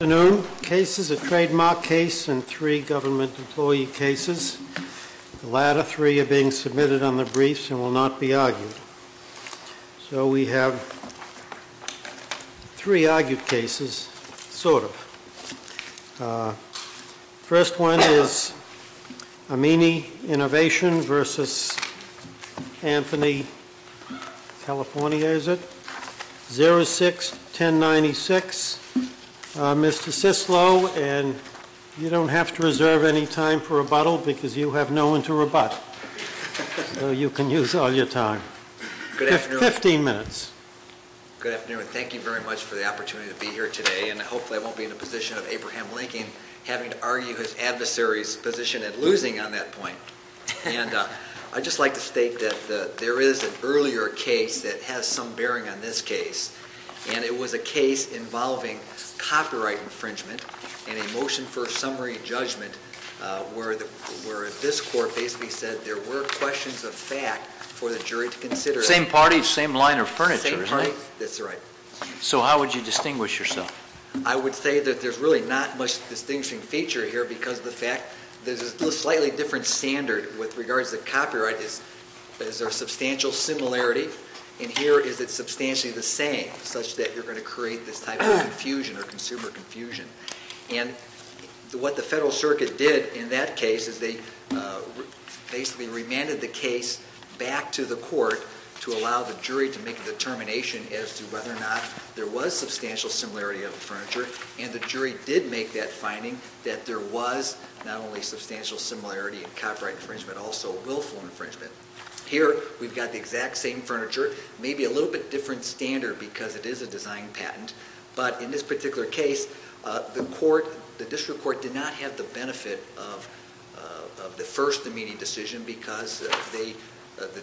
Good afternoon. Cases, a trademark case and three government employee cases. The latter three are being submitted on the briefs and will not be argued. So we have three argued cases, sort of. First one is Amini Innovation v. Anthony CA, is it? 06-1096, Mr. Sislo, and you don't have to reserve any time for rebuttal because you have no one to rebut. So you can use all your time. Fifteen minutes. Good afternoon. Thank you very much for the opportunity to be here today. And hopefully I won't be in a position of Abraham Lincoln having to argue his adversary's position at losing on that point. And I'd just like to state that there is an earlier case that has some bearing on this case. And it was a case involving copyright infringement and a motion for summary judgment where this court basically said there were questions of fact for the jury to consider. Same party, same line of furniture, right? That's right. So how would you distinguish yourself? I would say that there's really not much distinguishing feature here because of the fact there's a slightly different standard with regards to copyright. There's a substantial similarity, and here is it substantially the same, such that you're going to create this type of confusion or consumer confusion. And what the Federal Circuit did in that case is they basically remanded the case back to the court to allow the jury to make a determination as to whether or not there was substantial similarity of the furniture. And the jury did make that finding that there was not only substantial similarity in copyright infringement, also willful infringement. Here we've got the exact same furniture, maybe a little bit different standard because it is a design patent. But in this particular case, the district court did not have the benefit of the first immediate decision because the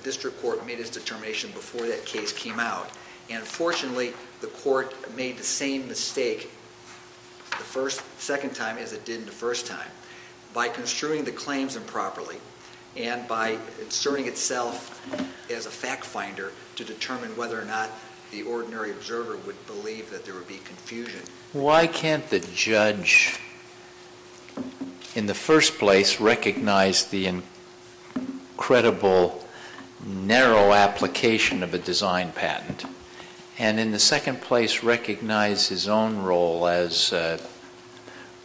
district court made its determination before that case came out. And fortunately, the court made the same mistake the second time as it did the first time by construing the claims improperly and by asserting itself as a fact finder to determine whether or not the ordinary observer would believe that there would be confusion. Why can't the judge in the first place recognize the incredible narrow application of a design patent and in the second place recognize his own role as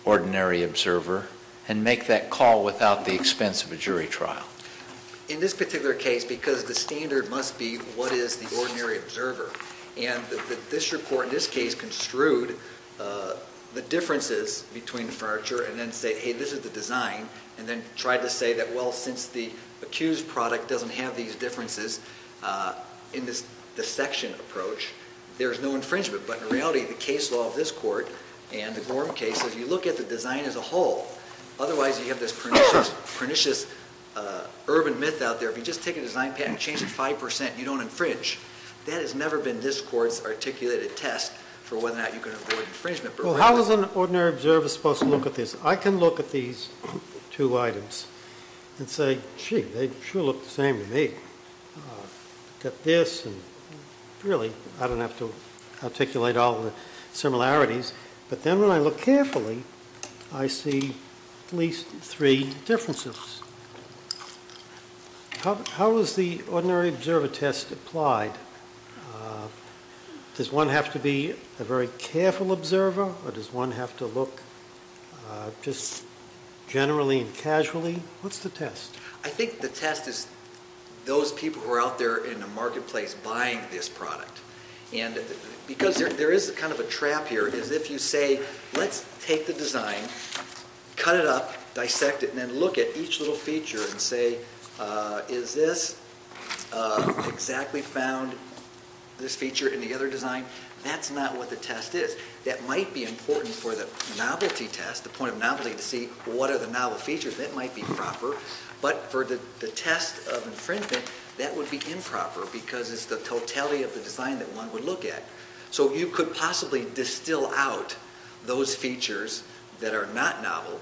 ordinary observer and make that call without the expense of a jury trial? In this particular case, because the standard must be what is the ordinary observer, and the district court in this case construed the differences between the furniture and then said, hey, this is the design. And then tried to say that, well, since the accused product doesn't have these differences in this dissection approach, there's no infringement. But in reality, the case law of this court and the Gorham case, if you look at the design as a whole, otherwise you have this pernicious urban myth out there. If you just take a design patent, change it 5%, you don't infringe. That has never been this court's articulated test for whether or not you can avoid infringement. How is an ordinary observer supposed to look at this? I can look at these two items and say, gee, they sure look the same to me. Look at this. Really, I don't have to articulate all the similarities. But then when I look carefully, I see at least three differences. How is the ordinary observer test applied? Does one have to be a very careful observer or does one have to look just generally and casually? What's the test? I think the test is those people who are out there in the marketplace buying this product. And because there is kind of a trap here is if you say, let's take the design, cut it up, dissect it, and then look at each little feature and say, is this exactly found? This feature in the other design? That's not what the test is. That might be important for the novelty test, the point of novelty to see what are the novel features. That might be proper. But for the test of infringement, that would be improper because it's the totality of the design that one would look at. So you could possibly distill out those features that are not novel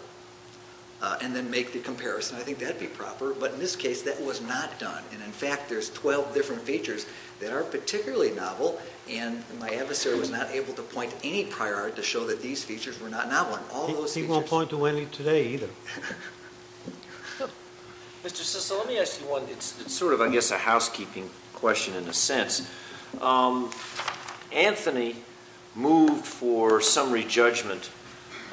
and then make the comparison. I think that would be proper. But in this case, that was not done. And in fact, there's 12 different features that are particularly novel. And my adversary was not able to point any prior art to show that these features were not novel. He won't point to any today either. Mr. Cicilla, let me ask you one. It's sort of, I guess, a housekeeping question in a sense. Anthony moved for summary judgment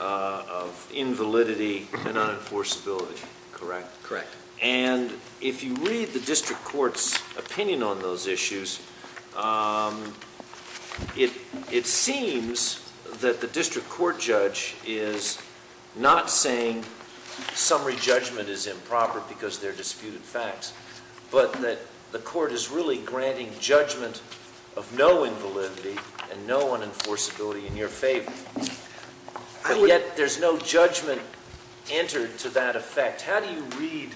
of invalidity and unenforceability, correct? Correct. And if you read the district court's opinion on those issues, it seems that the district court judge is not saying summary judgment is improper because they're disputed facts, but that the court is really granting judgment of no invalidity and no unenforceability in your favor. And yet, there's no judgment entered to that effect. How do you read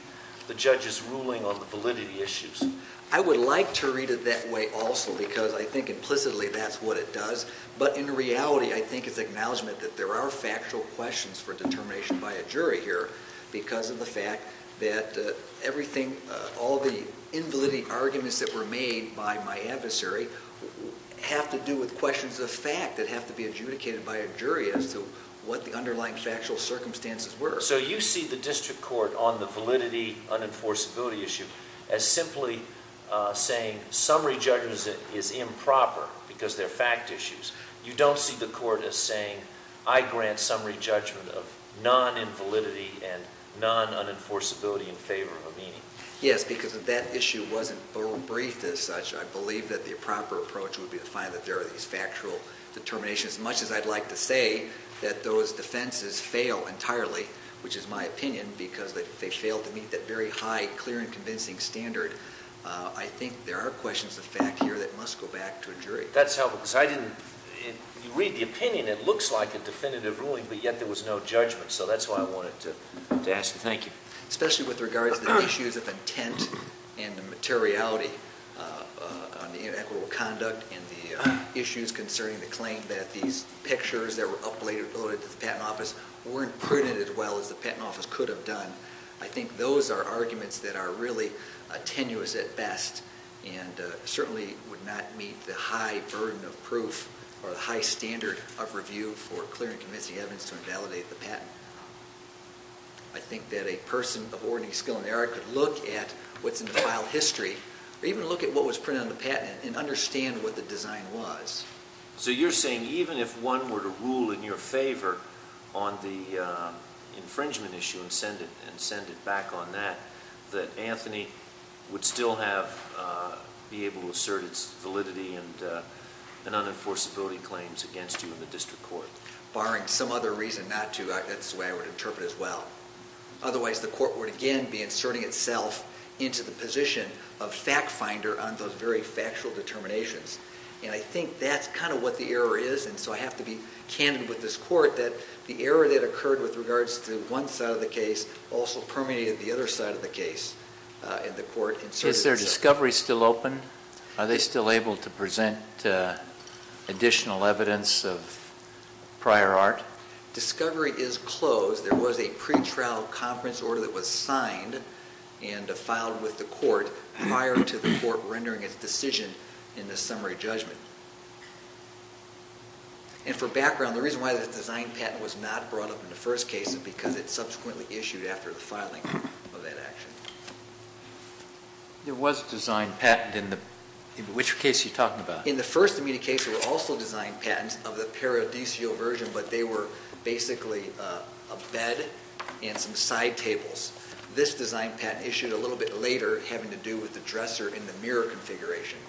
the judge's ruling on the validity issues? I would like to read it that way also because I think implicitly that's what it does. But in reality, I think it's acknowledgment that there are factual questions for determination by a jury here because of the fact that everything, all the invalidity arguments that were made by my adversary have to do with questions of fact that have to be adjudicated by a jury as to what the underlying factual circumstances were. So you see the district court on the validity unenforceability issue as simply saying summary judgment is improper because they're fact issues. You don't see the court as saying I grant summary judgment of non-invalidity and non-unenforceability in favor of a meeting. Yes, because if that issue wasn't briefed as such, I believe that the proper approach would be to find that there are these factual determinations. As much as I'd like to say that those defenses fail entirely, which is my opinion, because they fail to meet that very high, clear, and convincing standard, I think there are questions of fact here that must go back to a jury. That's helpful because I didn't read the opinion. It looks like a definitive ruling, but yet there was no judgment. So that's why I wanted to ask. Thank you. Especially with regards to the issues of intent and the materiality on the inequitable conduct and the issues concerning the claim that these pictures that were uploaded to the patent office weren't printed as well as the patent office could have done. I think those are arguments that are really tenuous at best and certainly would not meet the high burden of proof or the high standard of review for clear and convincing evidence to invalidate the patent. I think that a person of ordinary skill in the area could look at what's in the file history or even look at what was printed on the patent and understand what the design was. So you're saying even if one were to rule in your favor on the infringement issue and send it back on that, that Anthony would still be able to assert its validity and unenforceability claims against you in the district court? Barring some other reason not to, that's the way I would interpret it as well. Otherwise, the court would again be inserting itself into the position of fact finder on those very factual determinations. And I think that's kind of what the error is. And so I have to be candid with this court that the error that occurred with regards to one side of the case also permeated the other side of the case, and the court inserted itself. Is their discovery still open? Are they still able to present additional evidence of prior art? Discovery is closed. There was a pretrial conference order that was signed and filed with the court prior to the court rendering its decision in the summary judgment. And for background, the reason why the design patent was not brought up in the first case is because it subsequently issued after the filing of that action. There was a design patent in which case are you talking about? In the first immediate case, there were also design patents of the paradisio version, but they were basically a bed and some side tables. This design patent issued a little bit later having to do with the dresser in the mirror configuration.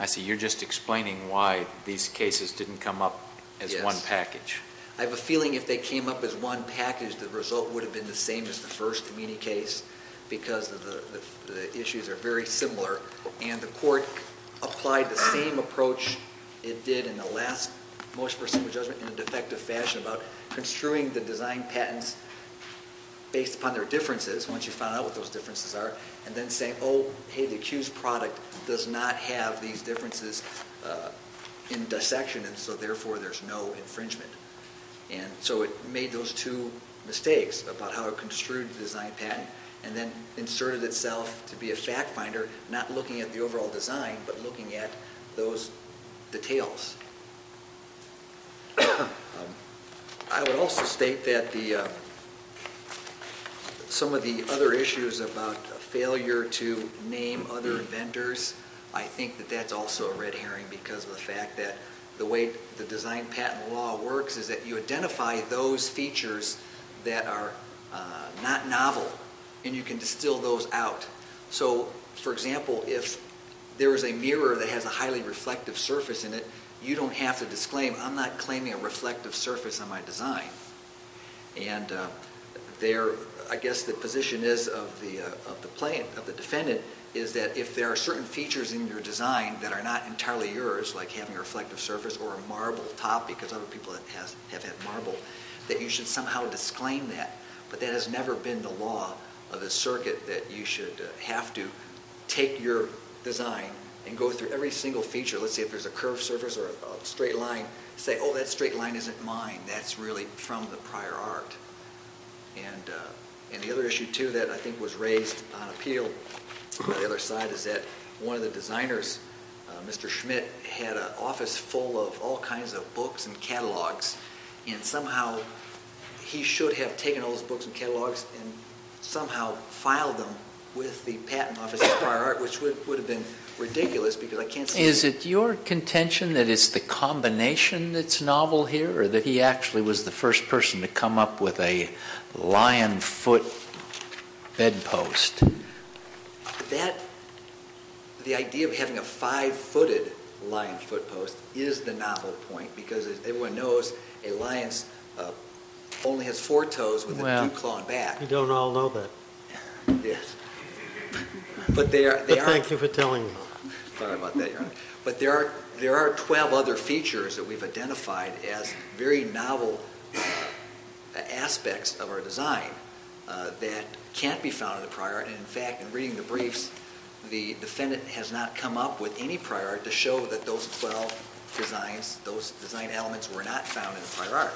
I see. You're just explaining why these cases didn't come up as one package. I have a feeling if they came up as one package, the result would have been the same as the first immediate case because the issues are very similar. And the court applied the same approach it did in the last most perceivable judgment in a defective fashion about construing the design patents based upon their differences, once you found out what those differences are, and then saying, oh, hey, the accused product does not have these differences in dissection, and so therefore there's no infringement. And so it made those two mistakes about how it construed the design patent and then inserted itself to be a fact finder, not looking at the overall design, but looking at those details. I would also state that some of the other issues about failure to name other vendors, I think that that's also a red herring because of the fact that the way the design patent law works is that you identify those features that are not novel, and you can distill those out. So, for example, if there is a mirror that has a highly reflective surface in it, you don't have to disclaim, I'm not claiming a reflective surface on my design. And I guess the position is of the defendant is that if there are certain features in your design that are not entirely yours, like having a reflective surface or a marble top, because other people have had marble, that you should somehow disclaim that. But that has never been the law of the circuit, that you should have to take your design and go through every single feature, let's say if there's a curved surface or a straight line, say, oh, that straight line isn't mine, that's really from the prior art. And the other issue, too, that I think was raised on appeal by the other side is that one of the designers, Mr. Schmidt, had an office full of all kinds of books and catalogs, and somehow he should have taken all those books and catalogs and somehow filed them with the patent office's prior art, which would have been ridiculous because I can't see... Is it your contention that it's the combination that's novel here, or that he actually was the first person to come up with a lion foot bedpost? The idea of having a five-footed lion foot post is the novel point because everyone knows a lion only has four toes with a two-clawed back. Well, you don't all know that. But thank you for telling me. Sorry about that, Your Honor. But there are 12 other features that we've identified as very novel aspects of our design that can't be found in the prior art, and in fact, in reading the briefs, the defendant has not come up with any prior art to show that those 12 designs, those design elements were not found in the prior art.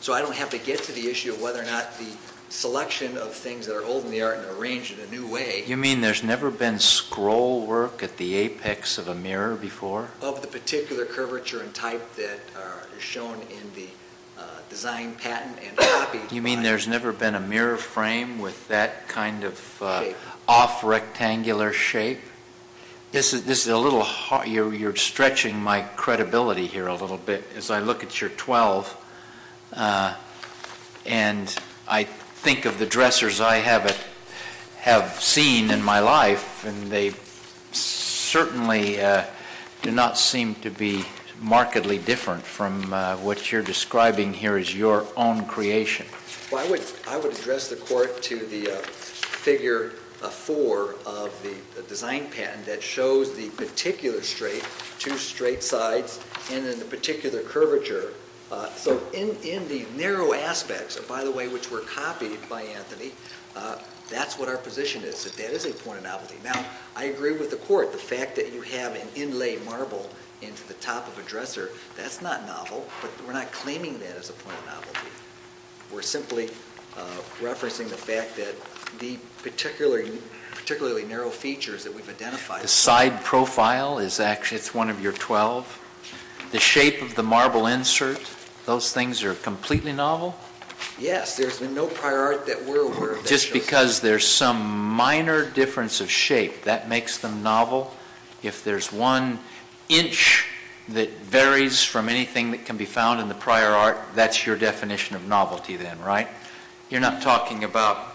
So I don't have to get to the issue of whether or not the selection of things that are old in the art and arranged in a new way... You mean there's never been scroll work at the apex of a mirror before? Of the particular curvature and type that are shown in the design patent and copy... You mean there's never been a mirror frame with that kind of off-rectangular shape? This is a little hard. You're stretching my credibility here a little bit. As I look at your 12, and I think of the dressers I have seen in my life, and they certainly do not seem to be markedly different from what you're describing here as your own creation. Well, I would address the Court to the figure 4 of the design patent that shows the particular straight, two straight sides, and then the particular curvature. So in the narrow aspects, by the way, which were copied by Anthony, that's what our position is, that that is a point of novelty. Now, I agree with the Court, the fact that you have an inlay marble into the top of a dresser, that's not novel, but we're not claiming that as a point of novelty. We're simply referencing the fact that the particularly narrow features that we've identified... The side profile is actually one of your 12. The shape of the marble insert, those things are completely novel? Yes, there's been no prior art that we're aware of that shows this. Just because there's some minor difference of shape, that makes them novel? If there's one inch that varies from anything that can be found in the prior art, that's your definition of novelty then, right? You're not talking about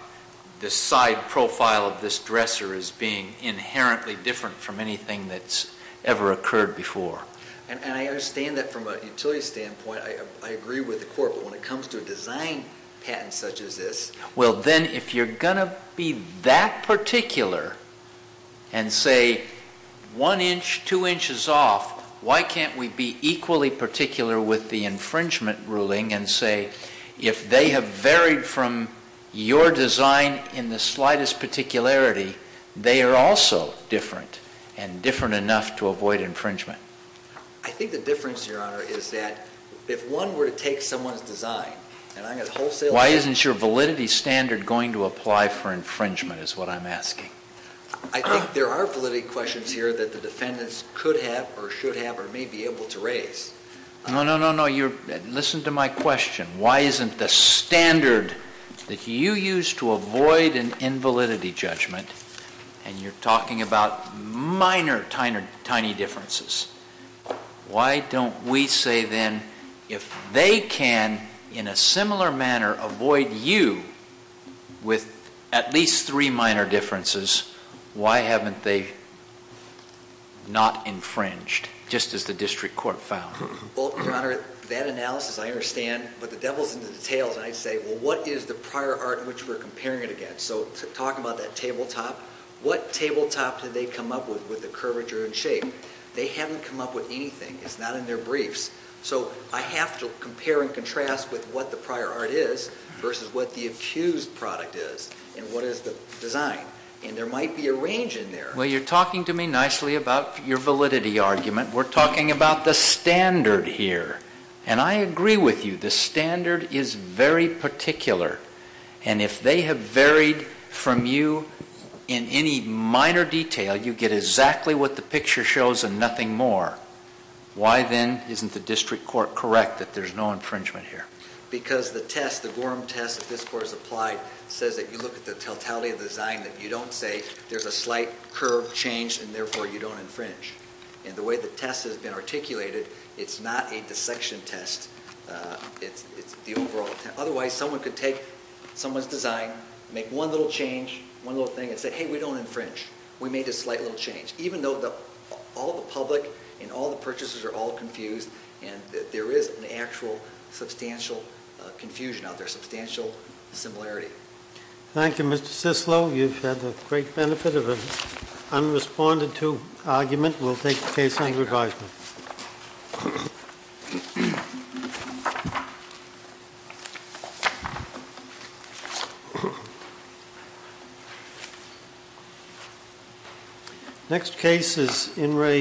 the side profile of this dresser as being inherently different from anything that's ever occurred before. And I understand that from a utility standpoint. I agree with the Court, but when it comes to a design patent such as this... Well then, if you're going to be that particular and say one inch, two inches off, why can't we be equally particular with the infringement ruling and say if they have varied from your design in the slightest particularity, they are also different and different enough to avoid infringement? I think the difference, Your Honor, is that if one were to take someone's design... Why isn't your validity standard going to apply for infringement is what I'm asking. I think there are validity questions here that the defendants could have or should have or may be able to raise. No, no, no, no. Listen to my question. Why isn't the standard that you use to avoid an invalidity judgment, and you're talking about minor, tiny differences, why don't we say then if they can, in a similar manner, avoid you with at least three minor differences, why haven't they not infringed, just as the District Court found? Well, Your Honor, that analysis I understand, but the devil's in the details. And I say, well, what is the prior art in which we're comparing it against? So talking about that tabletop, what tabletop did they come up with, with the curvature and shape? They haven't come up with anything. It's not in their briefs. So I have to compare and contrast with what the prior art is versus what the accused product is and what is the design. And there might be a range in there. Well, you're talking to me nicely about your validity argument. We're talking about the standard here. And I agree with you. The standard is very particular. And if they have varied from you in any minor detail, you get exactly what the picture shows and nothing more. Why then isn't the District Court correct that there's no infringement here? Because the test, the Gorham test that this Court has applied, says that you look at the totality of the design, that you don't say there's a slight curve change and therefore you don't infringe. And the way the test has been articulated, it's not a dissection test. It's the overall test. Otherwise, someone could take someone's design, make one little change, one little thing, and say, hey, we don't infringe. We made a slight little change. Even though all the public and all the purchasers are all confused and there is an actual substantial confusion out there, substantial similarity. Thank you, Mr. Cicillo. You've had the great benefit of an unresponded to argument. We'll take the case under advisement. Next case is In re.